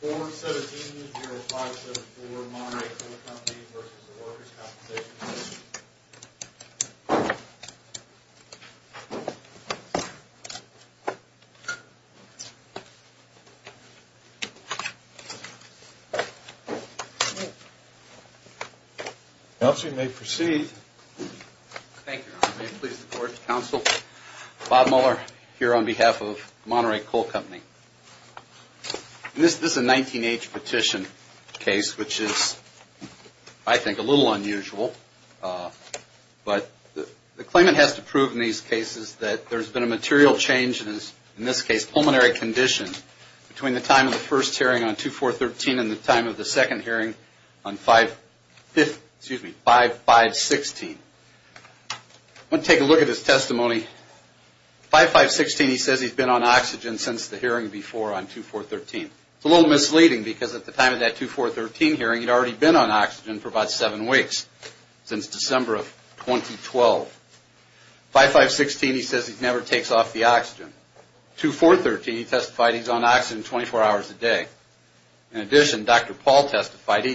Board 17-0574 Monterey Coal Company v. Workers' Compensation Commission Council, you may proceed. Thank you, Your Honor. May it please the Court, Council. Bob Mueller here on behalf of Monterey Coal Company. This is a 19-H petition case, which is, I think, a little unusual. But the claimant has to prove in these cases that there's been a material change in his, in this case, pulmonary condition between the time of the first hearing on 2413 and the time of the second hearing on 5516. I want to take a look at his testimony. 5516, he says he's been on oxygen since the hearing before on 2413. It's a little misleading, because at the time of that 2413 hearing, he'd already been on oxygen for about seven weeks, since December of 2012. 5516, he says he never takes off the oxygen. 2413, he testified he's on oxygen 24 hours a day. In addition, Dr. Paul testified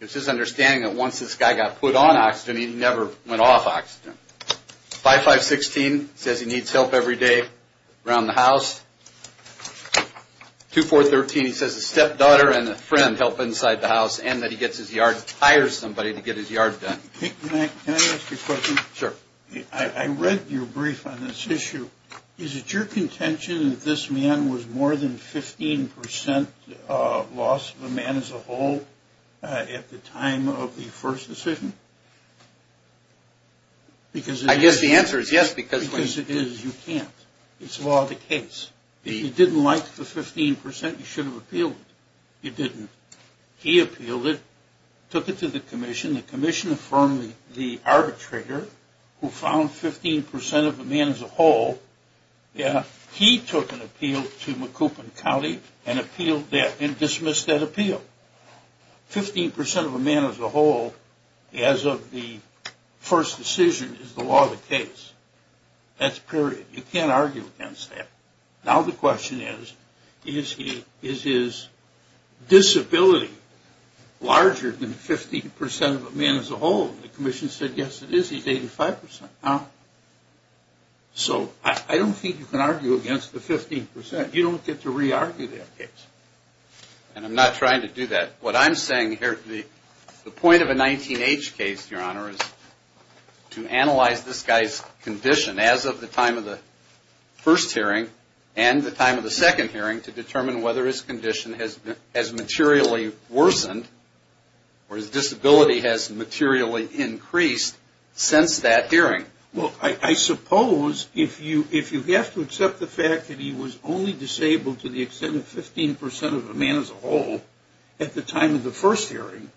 it's his understanding that once this guy got put on oxygen, he never went off oxygen. 5516 says he needs help every day around the house. 2413, he says his stepdaughter and a friend help inside the house, and that he gets his yard, hires somebody to get his yard done. Can I ask you a question? Sure. I read your brief on this issue. Is it your contention that this man was more than 15% loss of a man as a whole at the time of the first decision? I guess the answer is yes. Because it is, you can't. It's law of the case. You didn't like the 15%, you should have appealed it. You didn't. He appealed it, took it to the commission. The commission affirmed the arbitrator, who found 15% of a man as a whole. He took an appeal to Macoupin County and appealed that and dismissed that appeal. 15% of a man as a whole, as of the first decision, is the law of the case. That's period. You can't argue against that. Now the question is, is his disability larger than 15% of a man as a whole? The commission said yes it is, he's 85%. So I don't think you can argue against the 15%. You don't get to re-argue that case. And I'm not trying to do that. What I'm saying here, the point of a 19-H case, Your Honor, is to analyze this guy's condition as of the time of the first hearing and the time of the second hearing to determine whether his condition has materially worsened or his disability has materially increased since that hearing. Well, I suppose if you have to accept the fact that he was only disabled to the extent of 15% of a man as a whole at the time of the first hearing,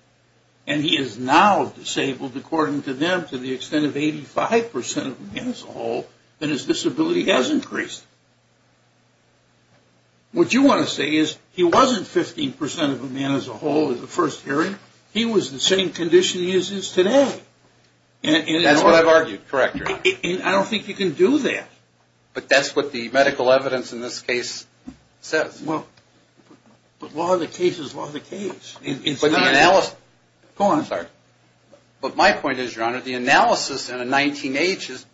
and he is now disabled, according to them, to the extent of 85% of a man as a whole, then his disability has increased. What you want to say is he wasn't 15% of a man as a whole at the first hearing. He was the same condition he is today. That's what I've argued. Correct, Your Honor. I don't think you can do that. But that's what the medical evidence in this case says. Well, but law of the case is law of the case. But the analysis... Go on. Sorry. But my point is, Your Honor, the analysis in a 19-H is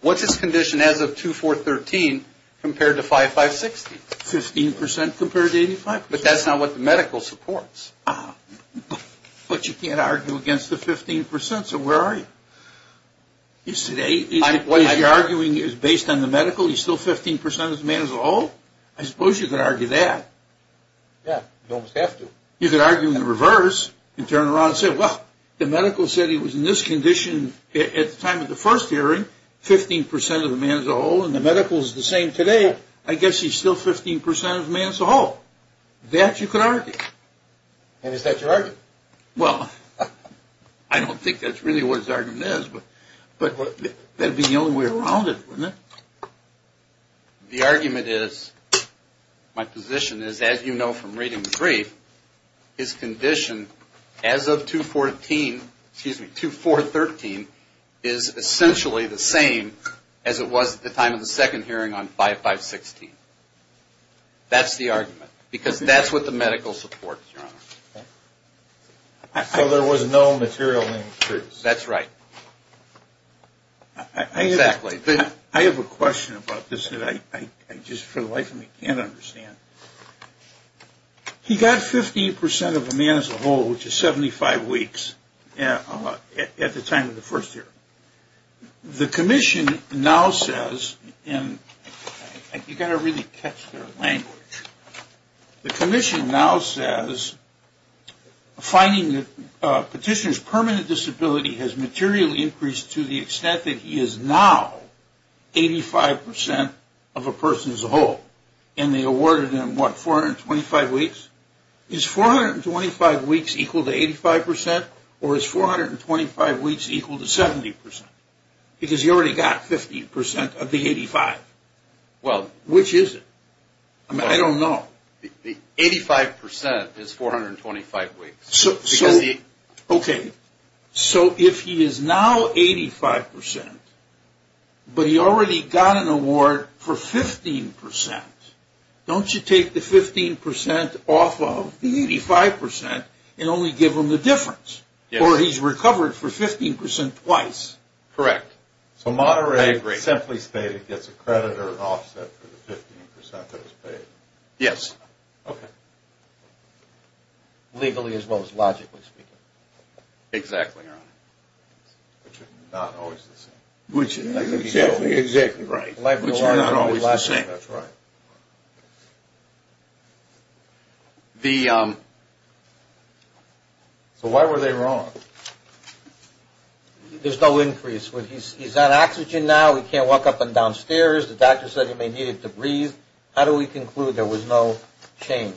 what's his condition as of 2-4-13 compared to 5-5-60? 15% compared to 85%. But that's not what the medical supports. But you can't argue against the 15%. So where are you? You're arguing it's based on the medical, he's still 15% of a man as a whole? I suppose you could argue that. Yeah, you almost have to. You could argue in reverse and turn around and say, well, the medical said he was in this condition at the time of the first hearing, 15% of a man as a whole, and the medical is the same today. I guess he's still 15% of a man as a whole. Well, that you could argue. And is that your argument? Well, I don't think that's really what his argument is, but that would be the only way around it, wouldn't it? The argument is, my position is, as you know from reading the brief, his condition as of 2-4-13 is essentially the same as it was at the time of the second hearing on 5-5-60. That's the argument. Because that's what the medical supports, Your Honor. So there was no material increase. That's right. Exactly. I have a question about this that I just for the life of me can't understand. He got 15% of a man as a whole, which is 75 weeks at the time of the first hearing. The commission now says, and you've got to really catch their language. The commission now says, finding that petitioner's permanent disability has materially increased to the extent that he is now 85% of a person as a whole. And they awarded him, what, 425 weeks? Is 425 weeks equal to 85%? Or is 425 weeks equal to 70%? Because he already got 15% of the 85. Well. Which is it? I mean, I don't know. The 85% is 425 weeks. Okay. So if he is now 85%, but he already got an award for 15%, don't you take the 15% off of the 85% and only give him the difference? Yes. Or he's recovered for 15% twice. Correct. I agree. So Monterey simply stated gets a credit or an offset for the 15% that was paid? Yes. Okay. Legally as well as logically speaking. Exactly, Your Honor. Which are not always the same. Exactly, exactly right. Which are not always the same. That's right. So why were they wrong? There's no increase. He's on oxygen now. He can't walk up and down stairs. The doctor said he may need to breathe. How do we conclude there was no change?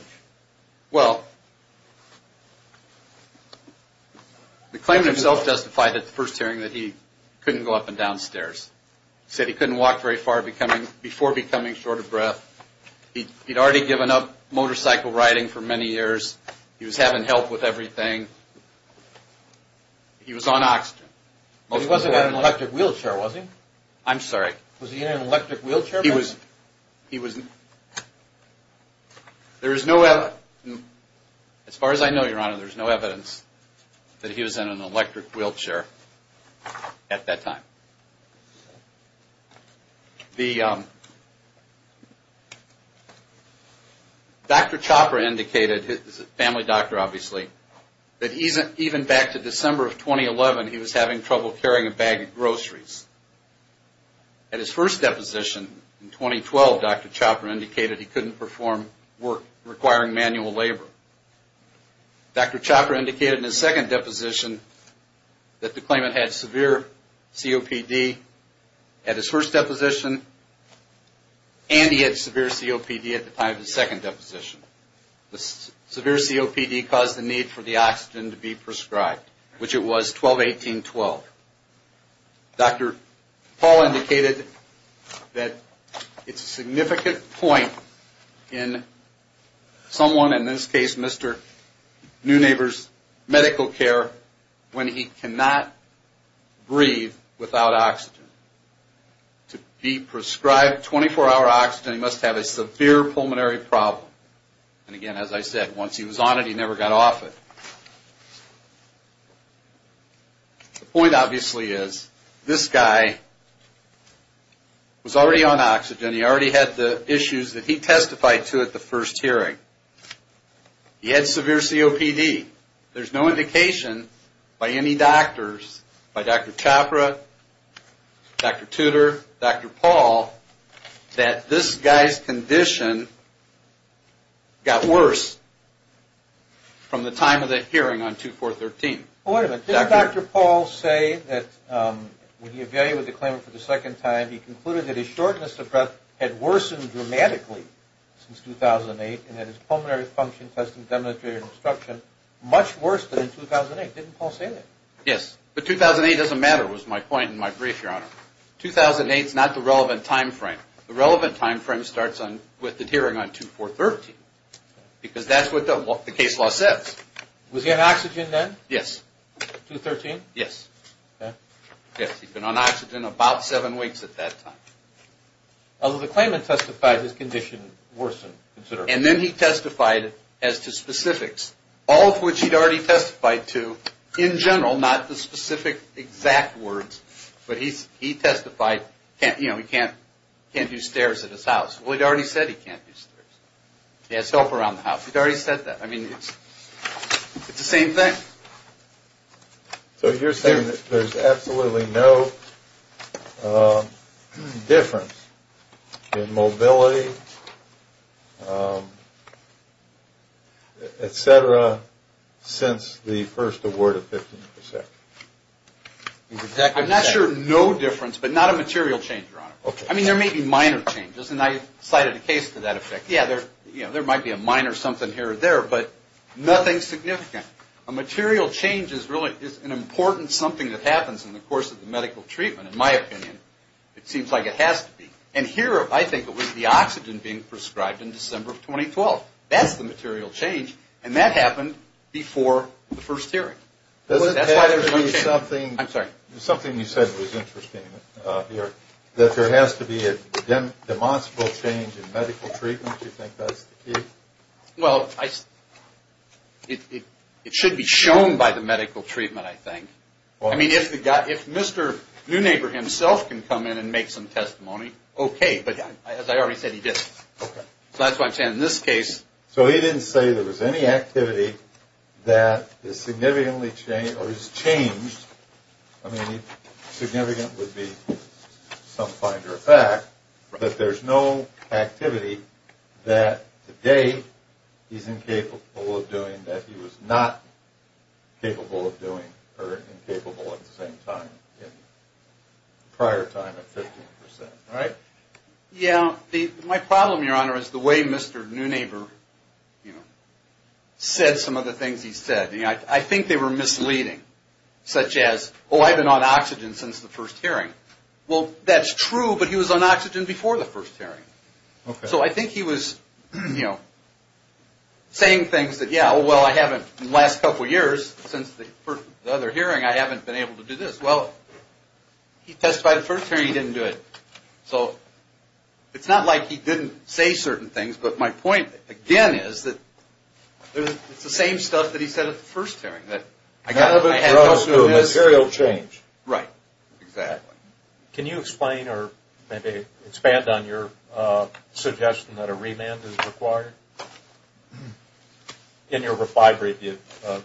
Well, the claimant himself justified at the first hearing that he couldn't go up and down stairs. He said he couldn't walk very far before becoming short of breath. He'd already given up motorcycle riding for many years. He was having help with everything. He was on oxygen. But he wasn't in an electric wheelchair, was he? I'm sorry? Was he in an electric wheelchair? He was. There is no evidence. As far as I know, Your Honor, there's no evidence that he was in an electric wheelchair at that time. Dr. Chopra indicated, his family doctor obviously, that even back to December of 2011 he was having trouble carrying a bag of groceries. At his first deposition in 2012, Dr. Chopra indicated he couldn't perform work requiring manual labor. Dr. Chopra indicated in his second deposition that the claimant had severe COPD at his first deposition and he had severe COPD at the time of his second deposition. The severe COPD caused the need for the oxygen to be prescribed, which it was 12-18-12. Dr. Paul indicated that it's a significant point in someone, in this case Mr. Newnaver's medical care, when he cannot breathe without oxygen. To be prescribed 24-hour oxygen, he must have a severe pulmonary problem. And again, as I said, once he was on it, he never got off it. The point obviously is, this guy was already on oxygen. He already had the issues that he testified to at the first hearing. He had severe COPD. There's no indication by any doctors, by Dr. Chopra, Dr. Tudor, Dr. Paul, that this guy's condition got worse from the time of the hearing on 24-13. Wait a minute. Didn't Dr. Paul say that when he evaluated the claimant for the second time, he concluded that his shortness of breath had worsened dramatically since 2008 and that his pulmonary function testing demonstrated obstruction much worse than in 2008? Didn't Paul say that? Yes. But 2008 doesn't matter was my point in my brief, Your Honor. 2008 is not the relevant time frame. The relevant time frame starts with the hearing on 24-13 because that's what the case law says. Was he on oxygen then? Yes. 24-13? Yes. Okay. Yes, he'd been on oxygen about seven weeks at that time. Although the claimant testified his condition worsened considerably. And then he testified as to specifics, all of which he'd already testified to in general, not the specific exact words, but he testified, you know, he can't do stairs at his house. Well, he'd already said he can't do stairs. He has help around the house. He'd already said that. I mean, it's the same thing. So you're saying that there's absolutely no difference in mobility, et cetera, since the first award of 15%? I'm not sure no difference, but not a material change, Your Honor. I mean, there may be minor changes, and I cited a case to that effect. Yeah, there might be a minor something here or there, but nothing significant. A material change is really an important something that happens in the course of the medical treatment, in my opinion. It seems like it has to be. And here, I think it was the oxygen being prescribed in December of 2012. That's the material change, and that happened before the first hearing. That's why there's no change. Something you said was interesting here, that there has to be a demonstrable change in medical treatment. Do you think that's the key? Well, it should be shown by the medical treatment, I think. I mean, if Mr. Newnaper himself can come in and make some testimony, okay. But as I already said, he didn't. So that's why I'm saying in this case. So he didn't say there was any activity that is significantly changed or has changed. I mean, significant would be some find or fact. But there's no activity that today he's incapable of doing that he was not capable of doing, or incapable at the same time in prior time at 15%, right? Yeah. My problem, Your Honor, is the way Mr. Newnaper said some of the things he said. I think they were misleading, such as, oh, I've been on oxygen since the first hearing. Well, that's true, but he was on oxygen before the first hearing. Okay. So I think he was saying things that, yeah, well, I haven't in the last couple years, since the other hearing, I haven't been able to do this. Well, he testified the first hearing, he didn't do it. So it's not like he didn't say certain things. But my point, again, is that it's the same stuff that he said at the first hearing. I had no clue. Material change. Right. Exactly. Can you explain or maybe expand on your suggestion that a remand is required? In your reply brief, you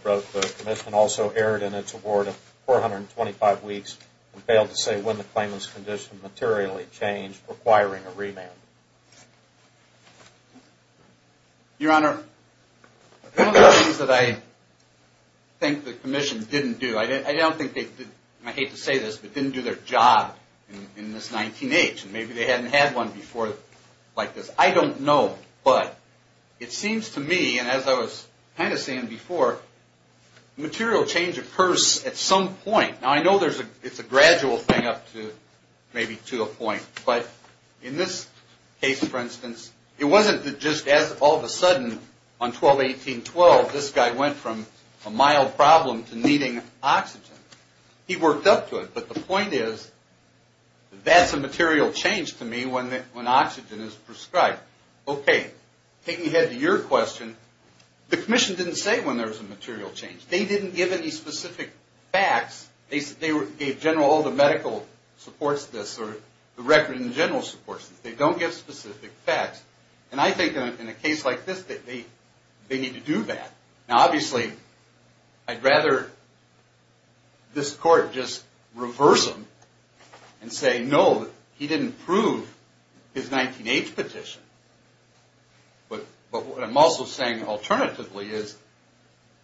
wrote the commission also erred in its award of 425 weeks and failed to say when the claimant's condition materially changed requiring a remand. Your Honor, one of the things that I think the commission didn't do, I don't think they did, and I hate to say this, but didn't do their job in this 19-H. Maybe they hadn't had one before like this. I don't know. But it seems to me, and as I was kind of saying before, material change occurs at some point. Now, I know it's a gradual thing up to maybe to a point. But in this case, for instance, it wasn't just as all of a sudden on 12-18-12, this guy went from a mild problem to needing oxygen. He worked up to it. But the point is that's a material change to me when oxygen is prescribed. Okay. Taking ahead to your question, the commission didn't say when there was a material change. They didn't give any specific facts. They gave general, all the medical supports this, or the record in general supports this. They don't give specific facts. And I think in a case like this that they need to do that. Now, obviously, I'd rather this court just reverse them and say, no, he didn't prove his 19-H petition. But what I'm also saying alternatively is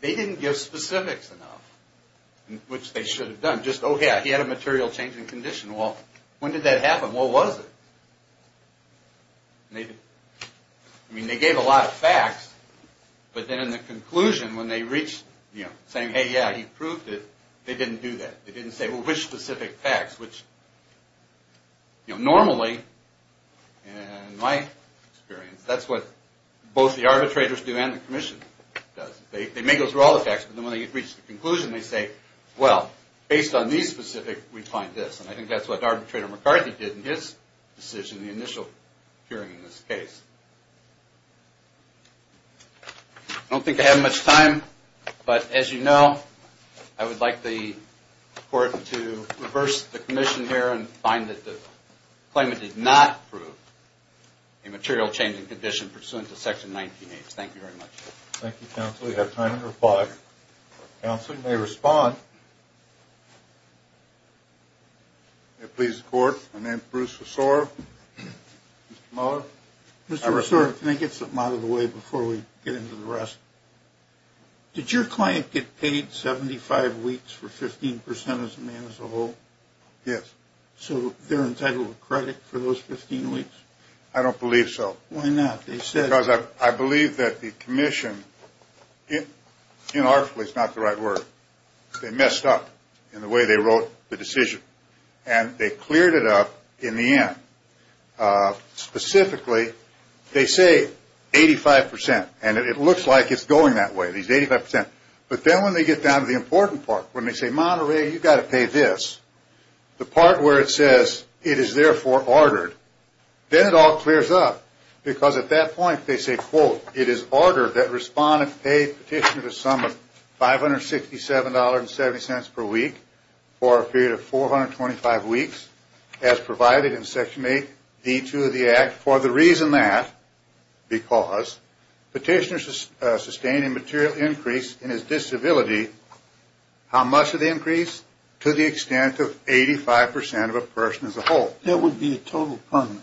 they didn't give specifics enough, which they should have done. Just, oh, yeah, he had a material change in condition. Well, when did that happen? What was it? I mean, they gave a lot of facts. But then in the conclusion, when they reached, you know, saying, hey, yeah, he proved it, they didn't do that. They didn't say, well, which specific facts? Which, you know, normally, in my experience, that's what both the arbitrators do and the commission does. They may go through all the facts. But then when they reach the conclusion, they say, well, based on these specifics, we find this. And I think that's what Arbitrator McCarthy did in his decision, the initial hearing in this case. I don't think I have much time. But as you know, I would like the court to reverse the commission here and find that the claimant did not prove a material change in condition pursuant to Section 19-H. Thank you very much. Thank you, Counsel. We have time for five. Counsel, you may respond. May it please the Court, my name is Bruce Resor. Mr. Mueller. Mr. Resor, can I get something out of the way before we get into the rest? Did your client get paid 75 weeks for 15% of the man as a whole? Yes. So they're entitled to credit for those 15 weeks? I don't believe so. Why not? Because I believe that the commission, inarticulate is not the right word. They messed up in the way they wrote the decision. And they cleared it up in the end. Specifically, they say 85%. And it looks like it's going that way, these 85%. But then when they get down to the important part, when they say, Monterey, you've got to pay this, the part where it says, it is therefore ordered, then it all clears up. Because at that point, they say, quote, it is ordered that respondent pay petitioner a sum of $567.70 per week for a period of 425 weeks, as provided in Section 8D2 of the Act. For the reason that, because petitioner sustained a material increase in his disability, how much of the increase? To the extent of 85% of a person as a whole. That would be a total permanent.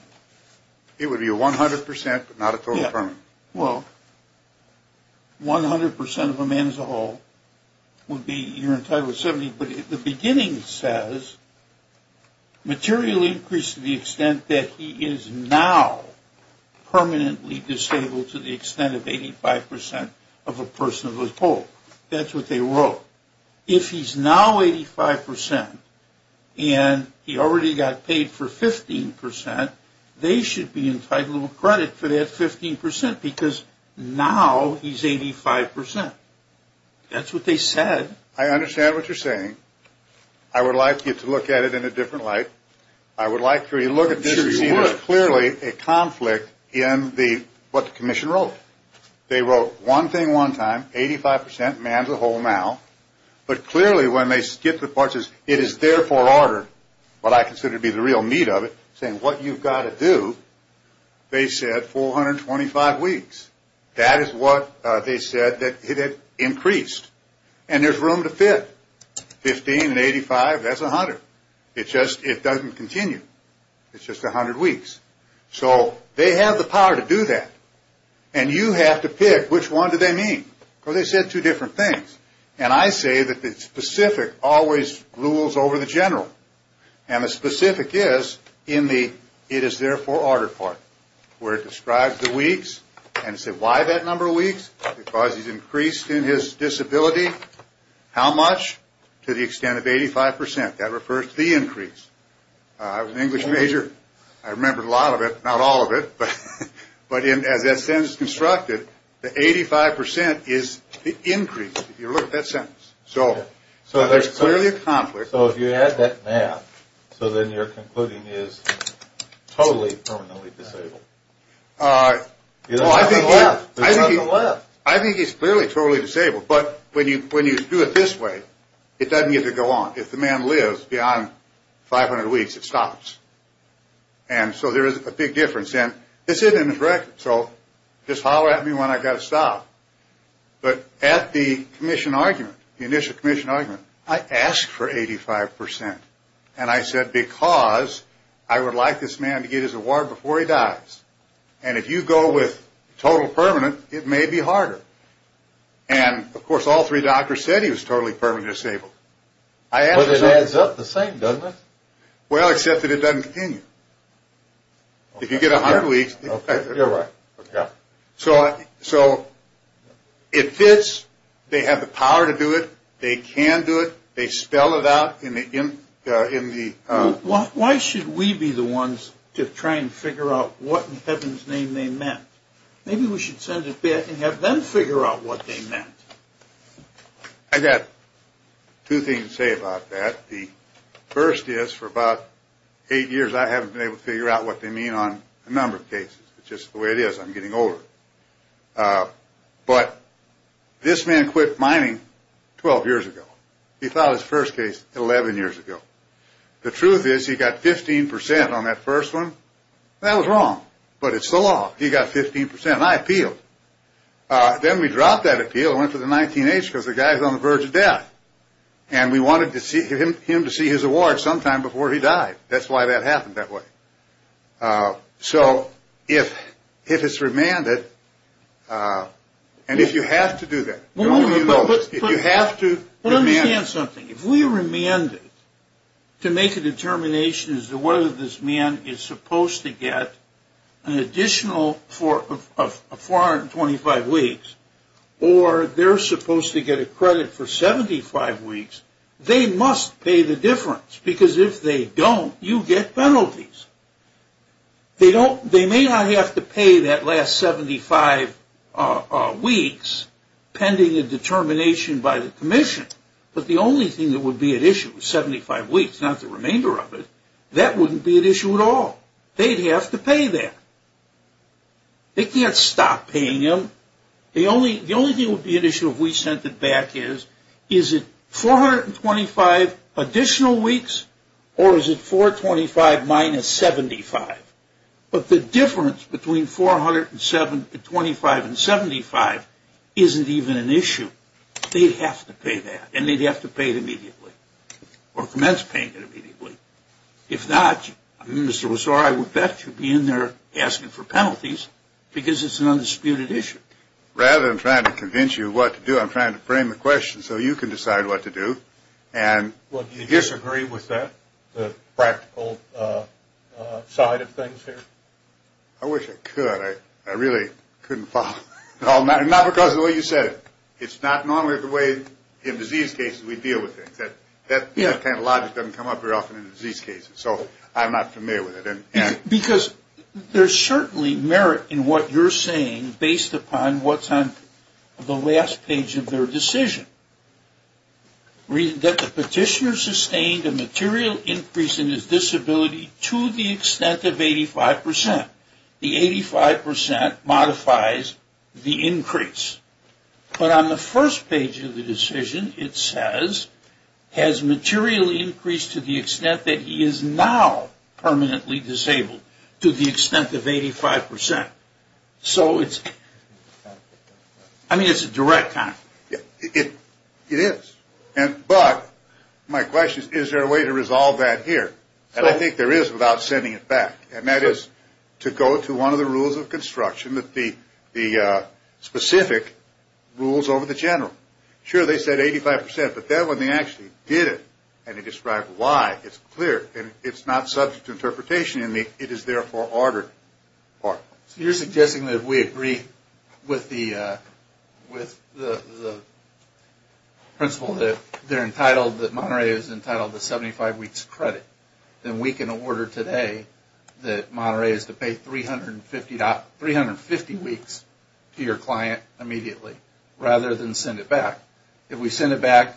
It would be a 100%, but not a total permanent. Well, 100% of a man as a whole would be, you're entitled to 70. But the beginning says, material increase to the extent that he is now permanently disabled to the extent of 85% of a person as a whole. That's what they wrote. If he's now 85% and he already got paid for 15%, they should be entitled to credit for that 15%, because now he's 85%. That's what they said. I understand what you're saying. I would like you to look at it in a different light. I would like for you to look at this. There's clearly a conflict in what the commission wrote. They wrote one thing one time, 85% man as a whole now. But clearly when they skip the part that says it is therefore ordered, what I consider to be the real meat of it, saying what you've got to do, they said 425 weeks. That is what they said that it had increased. And there's room to fit. 15 and 85, that's 100. It just doesn't continue. It's just 100 weeks. So they have the power to do that. And you have to pick which one do they mean. They said two different things. And I say that the specific always rules over the general. And the specific is in the it is therefore ordered part, where it describes the weeks. And it said why that number of weeks? Because he's increased in his disability. How much? To the extent of 85%. That refers to the increase. I was an English major. I remember a lot of it, not all of it. But as that sentence is constructed, the 85% is the increase. If you look at that sentence. So there's clearly a conflict. So if you add that math, so then you're concluding is totally permanently disabled. I think it's clearly totally disabled. But when you do it this way, it doesn't get to go on. If the man lives beyond 500 weeks, it stops. And so there is a big difference. And it's in his record. So just holler at me when I've got to stop. But at the commission argument, the initial commission argument, I asked for 85%. And I said because I would like this man to get his award before he dies. And if you go with total permanent, it may be harder. And, of course, all three doctors said he was totally permanently disabled. But it adds up the same, doesn't it? Well, except that it doesn't continue. If you get 100 weeks. You're right. So it fits. They have the power to do it. They can do it. They spell it out. Why should we be the ones to try and figure out what in heaven's name they meant? Maybe we should send it back and have them figure out what they meant. I got two things to say about that. The first is for about eight years I haven't been able to figure out what they mean on a number of cases. It's just the way it is. I'm getting older. But this man quit mining 12 years ago. He filed his first case 11 years ago. The truth is he got 15% on that first one. That was wrong. But it's the law. He got 15%. I appealed. Then we dropped that appeal and went to the 19-H because the guy's on the verge of death. And we wanted him to see his award sometime before he died. That's why that happened that way. So if it's remanded, and if you have to do that, the only way you know is if you have to remand it. To make a determination as to whether this man is supposed to get an additional 425 weeks or they're supposed to get a credit for 75 weeks, they must pay the difference. Because if they don't, you get penalties. They may not have to pay that last 75 weeks pending a determination by the commission. But the only thing that would be at issue, 75 weeks, not the remainder of it, that wouldn't be at issue at all. They'd have to pay that. They can't stop paying them. The only thing that would be at issue if we sent it back is, is it 425 additional weeks or is it 425 minus 75? They'd have to pay that. And they'd have to pay it immediately or commence paying it immediately. If not, Mr. Wasore, I would bet you'd be in there asking for penalties because it's an undisputed issue. Rather than trying to convince you what to do, I'm trying to frame the question so you can decide what to do. Well, do you disagree with that, the practical side of things here? I wish I could. I really couldn't follow. Not because of the way you said it. It's not normally the way in disease cases we deal with things. That kind of logic doesn't come up very often in disease cases. So I'm not familiar with it. Because there's certainly merit in what you're saying based upon what's on the last page of their decision. That the petitioner sustained a material increase in his disability to the extent of 85%. The 85% modifies the increase. But on the first page of the decision, it says, has materially increased to the extent that he is now permanently disabled to the extent of 85%. So it's, I mean, it's a direct comment. It is. But my question is, is there a way to resolve that here? And I think there is without sending it back. And that is to go to one of the rules of construction, the specific rules over the general. Sure, they said 85%. But that one, they actually did it. And they described why. It's clear. And it's not subject to interpretation. It is therefore ordered. So you're suggesting that we agree with the principle that they're entitled, that Monterey is entitled to 75 weeks credit. Then we can order today that Monterey is to pay 350 weeks to your client immediately, rather than send it back. If we send it back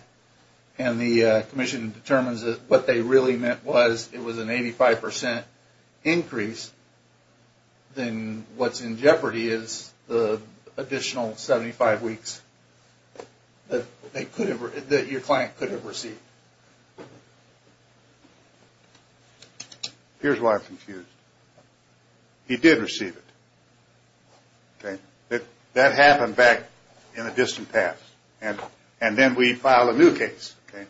and the commission determines that what they really meant was it was an 85% increase, then what's in jeopardy is the additional 75 weeks that your client could have received. Here's why I'm confused. He did receive it. Okay. That happened back in the distant past. And then we file a new case. Okay.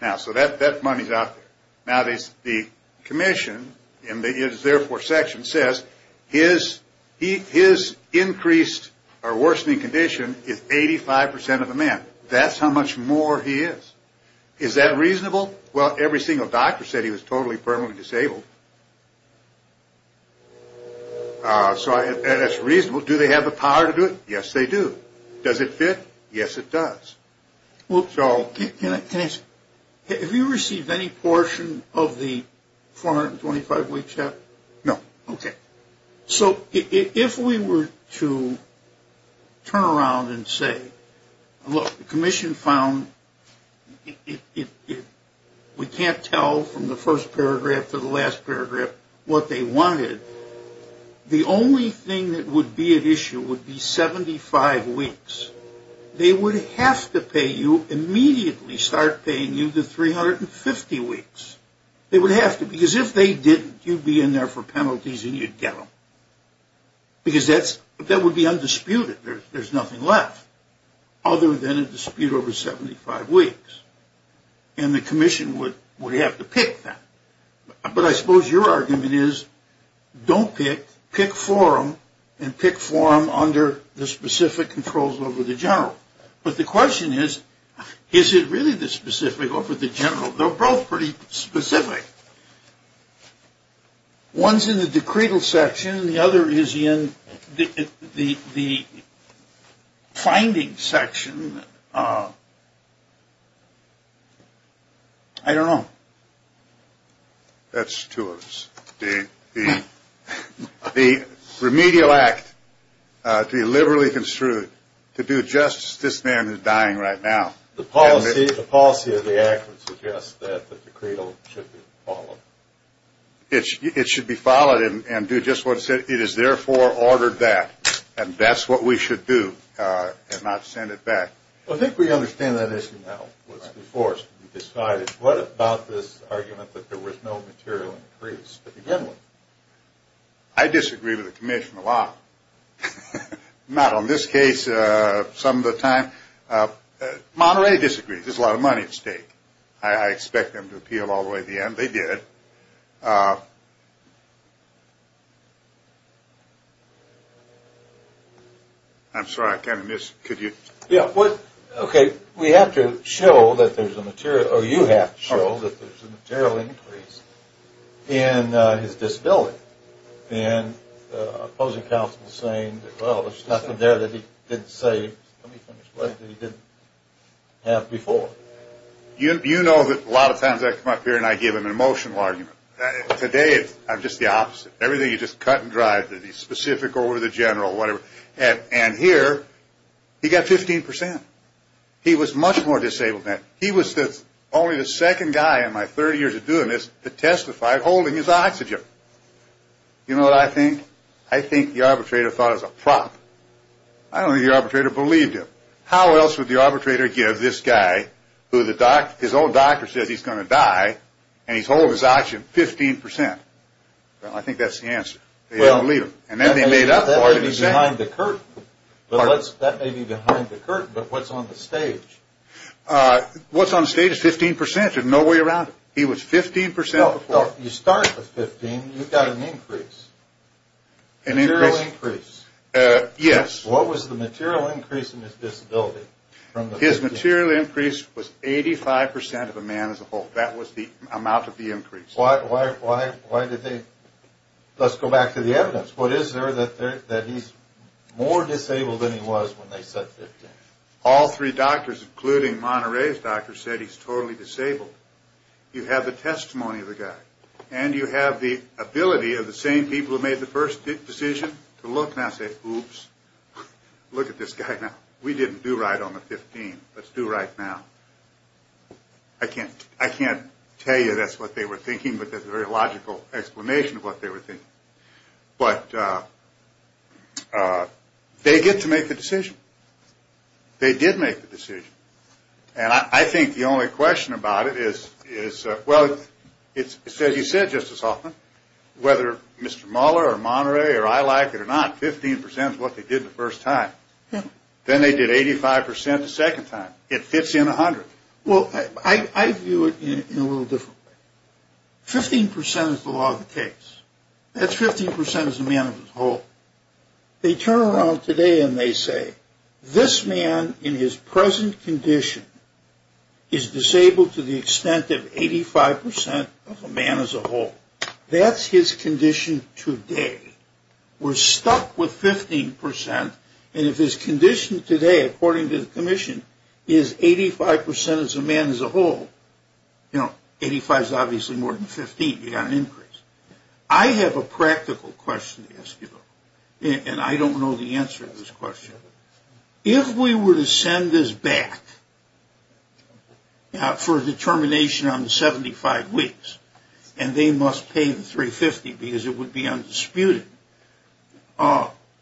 Now, so that money's out there. Now, the commission in the is therefore section says his increased or worsening condition is 85% of the man. That's how much more he is. Is that reasonable? Well, every single doctor said he was totally permanently disabled. So that's reasonable. Do they have the power to do it? Yes, they do. Does it fit? Yes, it does. Well, Joel, can I ask you, have you received any portion of the 425 weeks yet? No. Okay. So if we were to turn around and say, look, the commission found we can't tell from the first paragraph to the last paragraph what they wanted, the only thing that would be at issue would be 75 weeks. They would have to pay you, immediately start paying you the 350 weeks. They would have to. Because if they didn't, you'd be in there for penalties and you'd get them. Because that would be undisputed. There's nothing left other than a dispute over 75 weeks. And the commission would have to pick that. But I suppose your argument is don't pick. Pick forum and pick forum under the specific controls over the general. But the question is, is it really the specific over the general? They're both pretty specific. One's in the decretal section and the other is in the finding section. I don't know. That's two of us. The remedial act to be liberally construed to do justice to this man who's dying right now. The policy of the act would suggest that the decretal should be followed. It should be followed and do just what it says. It is therefore ordered that. And that's what we should do and not send it back. I think we understand that issue now. What about this argument that there was no material increase to begin with? I disagree with the commission a lot. Not on this case. Some of the time Monterey disagrees. There's a lot of money at stake. I expect them to appeal all the way to the end. They did. I'm sorry. I kind of missed. Could you? Yeah. Okay. We have to show that there's a material or you have to show that there's a material increase in his disability. And opposing counsel is saying, well, there's stuff in there that he didn't say, let me explain, that he didn't have before. You know that a lot of times I come up here and I give him an emotional argument. Today I'm just the opposite. Everything is just cut and dried. He's specific over the general, whatever. And here he got 15%. He was much more disabled than that. He was only the second guy in my 30 years of doing this that testified holding his oxygen. You know what I think? I think the arbitrator thought it was a prop. I don't think the arbitrator believed him. How else would the arbitrator give this guy who his old doctor said he's going to die and he's holding his oxygen 15%? Well, I think that's the answer. They didn't believe him. That may be behind the curtain, but what's on the stage? What's on the stage is 15%, there's no way around it. He was 15% before. You start with 15, you've got an increase. A material increase. Yes. What was the material increase in his disability? His material increase was 85% of a man as a whole. That was the amount of the increase. Why did they? Let's go back to the evidence. What is there that he's more disabled than he was when they said 15? All three doctors, including Monterey's doctor, said he's totally disabled. You have the testimony of the guy. And you have the ability of the same people who made the first decision to look and not say, oops, look at this guy now. We didn't do right on the 15. Let's do right now. I can't tell you that's what they were thinking, but that's a very logical explanation of what they were thinking. But they get to make the decision. They did make the decision. And I think the only question about it is, well, it's as you said, Justice Hoffman, whether Mr. Mueller or Monterey or I like it or not, 15% is what they did the first time. Then they did 85% the second time. It fits in 100. Well, I view it in a little different way. 15% is the law of the case. That's 15% as a man as a whole. They turn around today and they say, this man in his present condition is disabled to the extent of 85% of a man as a whole. That's his condition today. We're stuck with 15%. And if his condition today, according to the commission, is 85% as a man as a whole, you know, 85 is obviously more than 15. You've got an increase. I have a practical question to ask you, though, and I don't know the answer to this question. If we were to send this back for a determination on the 75 weeks, and they must pay the 350 because it would be undisputed,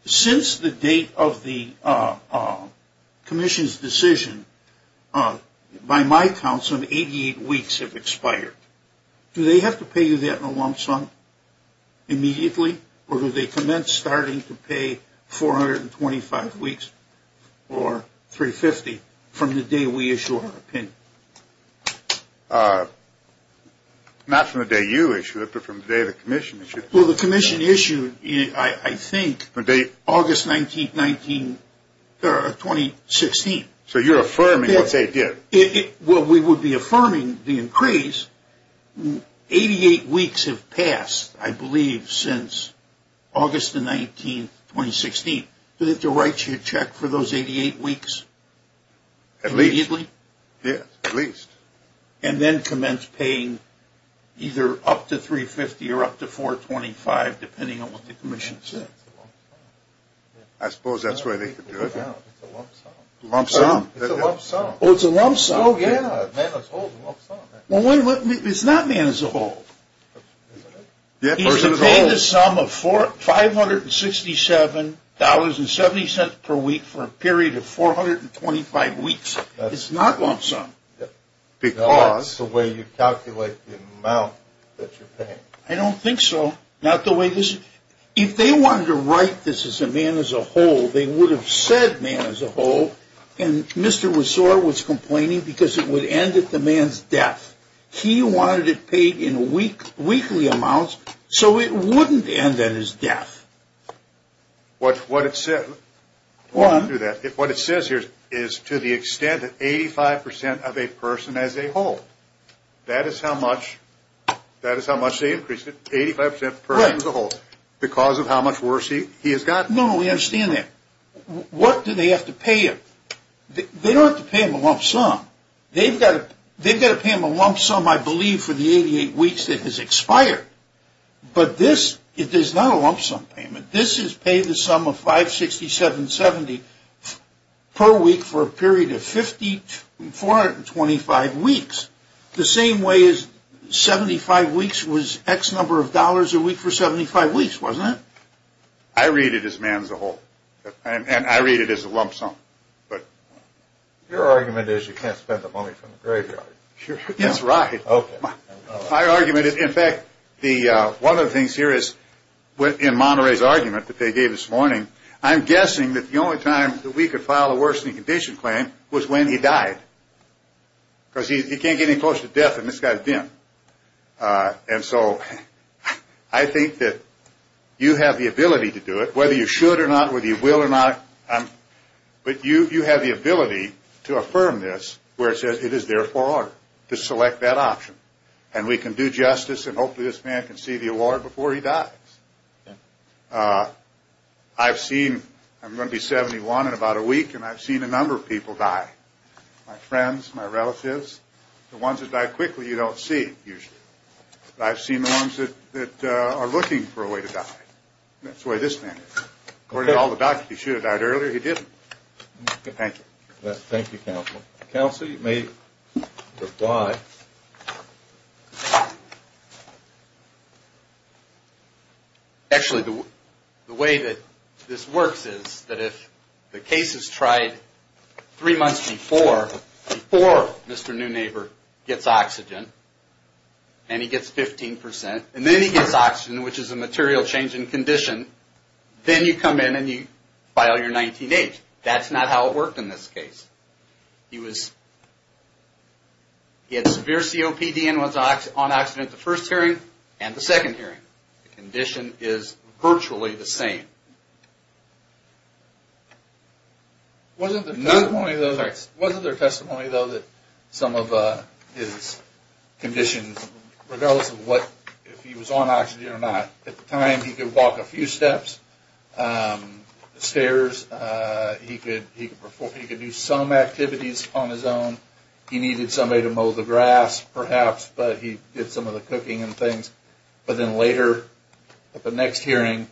since the date of the commission's decision, by my count, some 88 weeks have expired. Do they have to pay you that in a lump sum immediately, or do they commence starting to pay 425 weeks or 350 from the day we issue our opinion? Not from the day you issue it, but from the day the commission issued it. Well, the commission issued, I think, August 19, 2016. So you're affirming what they did. Well, we would be affirming the increase. 88 weeks have passed, I believe, since August 19, 2016. Do they have to write you a check for those 88 weeks immediately? At least. Yes, at least. And then commence paying either up to 350 or up to 425, depending on what the commission says. I suppose that's where they could do it. It's a lump sum. Lump sum. It's a lump sum. Oh, it's a lump sum. Oh, yeah. Man is a whole is a lump sum. It's not man is a whole. He's been paying the sum of $567.70 per week for a period of 425 weeks. It's not lump sum. Because the way you calculate the amount that you're paying. I don't think so. Not the way this is. If they wanted to write this as a man is a whole, they would have said man is a whole, and Mr. Resor was complaining because it would end at the man's death. He wanted it paid in weekly amounts, so it wouldn't end at his death. What it says here is to the extent that 85% of a person as a whole, that is how much they increased it, 85% per person as a whole, because of how much worse he has gotten. No, no, we understand that. What do they have to pay him? They don't have to pay him a lump sum. They've got to pay him a lump sum, I believe, for the 88 weeks that has expired. But this is not a lump sum payment. This is pay the sum of $567.70 per week for a period of 425 weeks. The same way as 75 weeks was X number of dollars a week for 75 weeks, wasn't it? I read it as man is a whole, and I read it as a lump sum. Your argument is you can't spend the money from the graveyard. That's right. My argument is, in fact, one of the things here is in Monterey's argument that they gave this morning, I'm guessing that the only time that we could file a worsening condition claim was when he died, because he can't get any closer to death than this guy's been. And so I think that you have the ability to do it, whether you should or not, whether you will or not, but you have the ability to affirm this where it says it is therefore to select that option. And we can do justice, and hopefully this man can see the award before he dies. I've seen, I'm going to be 71 in about a week, and I've seen a number of people die, my friends, my relatives, the ones that die quickly you don't see usually. But I've seen the ones that are looking for a way to die. That's the way this man is. According to all the docs, if he should have died earlier, he didn't. Thank you. Thank you, Counselor. Counsel, you may reply. Actually, the way that this works is that if the case is tried three months before, before Mr. Newneighbor gets oxygen, and he gets 15%, and then he gets oxygen, which is a material change in condition, then you come in and you file your 19-H. That's not how it worked in this case. He had severe COPD and was on oxygen at the first hearing and the second hearing. The condition is virtually the same. Wasn't there testimony, though, that some of his conditions, regardless of what, if he was on oxygen or not, at the time he could walk a few steps, the stairs, he could do some activities on his own. He needed somebody to mow the grass, perhaps, but he did some of the cooking and things. But then later, at the next hearing,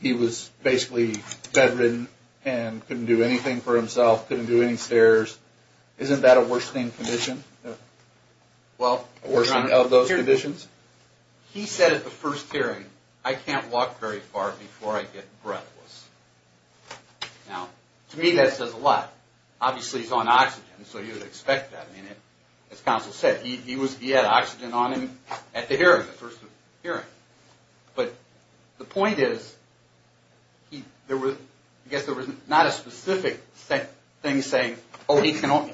he was basically bedridden and couldn't do anything for himself, couldn't do any stairs. Isn't that a worsening condition? Well, a worsening of those conditions. He said at the first hearing, I can't walk very far before I get breathless. Now, to me that says a lot. Obviously, he's on oxygen, so you would expect that. I mean, as counsel said, he had oxygen on him at the hearing, the first hearing. But the point is, I guess there was not a specific thing saying, oh,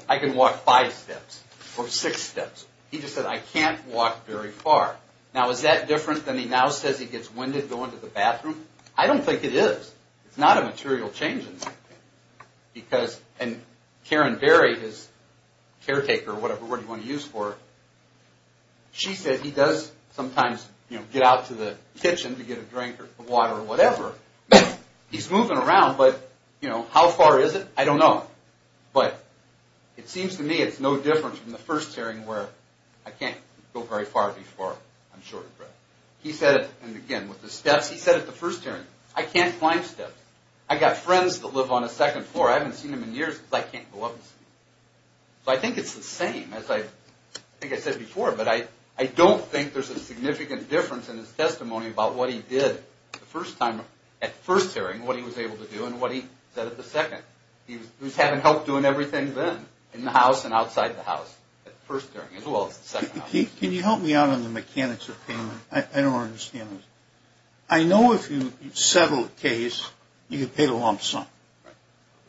I can walk five steps or six steps. He just said, I can't walk very far. Now, is that different than he now says he gets winded going to the bathroom? I don't think it is. It's not a material change in that. And Karen Berry, his caretaker or whatever word you want to use for it, she said he does sometimes get out to the kitchen to get a drink or water or whatever. He's moving around, but how far is it? I don't know. But it seems to me it's no different from the first hearing where I can't go very far before I'm short of breath. He said it, and again, with the steps, he said it at the first hearing. I can't climb steps. I've got friends that live on the second floor. I haven't seen them in years because I can't go up the stairs. So I think it's the same, as I think I said before, but I don't think there's a significant difference in his testimony about what he did the first time at the first hearing, what he was able to do and what he said at the second. He was having help doing everything then in the house and outside the house at the first hearing as well as the second. Can you help me out on the mechanics of payment? I don't understand this. I know if you settle a case, you get paid a lump sum.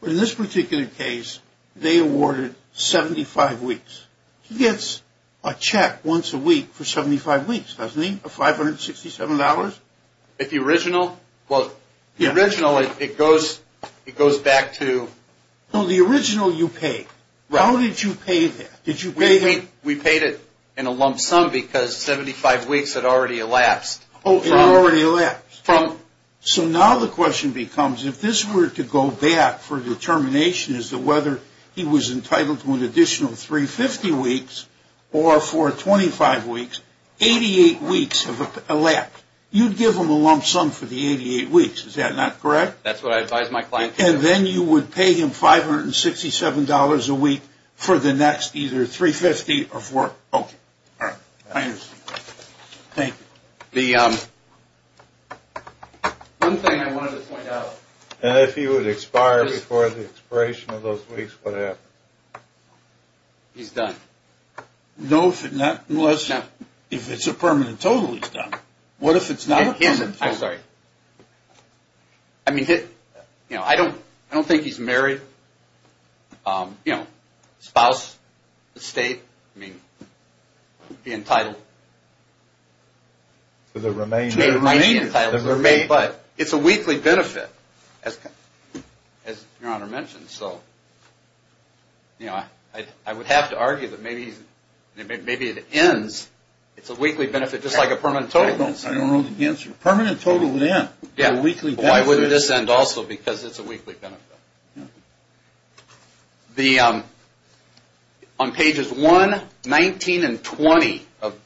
But in this particular case, they awarded 75 weeks. He gets a check once a week for 75 weeks, doesn't he? A $567? The original? The original, it goes back to... The original you paid. How did you pay that? We paid it in a lump sum because 75 weeks had already elapsed. It had already elapsed. So now the question becomes, if this were to go back for determination as to whether he was entitled to an additional 350 weeks or for 25 weeks, 88 weeks have elapsed. You'd give him a lump sum for the 88 weeks. Is that not correct? That's what I advise my clients to do. And then you would pay him $567 a week for the next either 350 or for... Okay. All right. I understand. Thank you. The one thing I wanted to point out. And if he would expire before the expiration of those weeks, what happens? He's done. No, if it's a permanent total, he's done. What if it's not a permanent total? I'm sorry. I mean, I don't think he's married, you know, spouse, estate, I mean, be entitled... To the remainder. To the remainder. But it's a weekly benefit, as Your Honor mentioned. So, you know, I would have to argue that maybe it ends. It's a weekly benefit, just like a permanent total. I don't know the answer. A permanent total would end. Yeah. A weekly benefit. Well, I wouldn't dissent also because it's a weekly benefit. Yeah. On pages 1, 19, and 20 of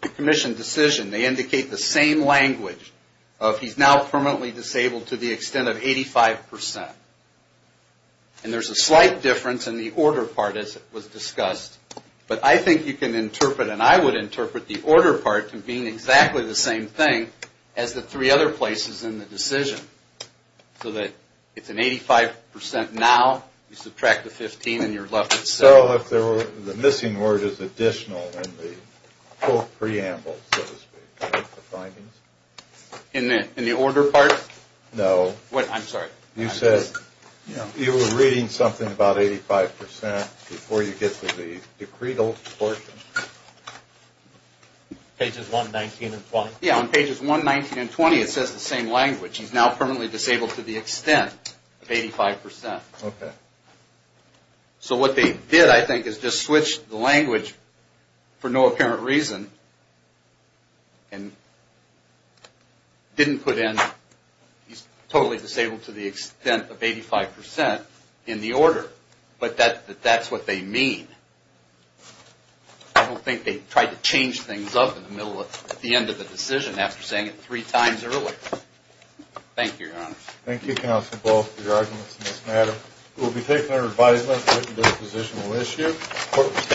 the commission decision, they indicate the same language of he's now permanently disabled to the extent of 85%. And there's a slight difference in the order part, as was discussed. But I think you can interpret, and I would interpret, the order part to being exactly the same thing as the three other places in the decision. So that it's an 85% now, you subtract the 15, and you're left with 7. Well, if the missing word is additional in the full preamble, so to speak, the findings. In the order part? No. I'm sorry. You said you were reading something about 85% before you get to the decretal portion. Pages 1, 19, and 20? Yeah, on pages 1, 19, and 20, it says the same language. He's now permanently disabled to the extent of 85%. Okay. So what they did, I think, is just switched the language for no apparent reason, and didn't put in he's totally disabled to the extent of 85% in the order. But that's what they mean. I don't think they tried to change things up in the middle, at the end of the decision, after saying it three times earlier. Thank you, Your Honors. Thank you, Counsel Ball, for your arguments in this matter. We'll be taking our advisement into a positional issue.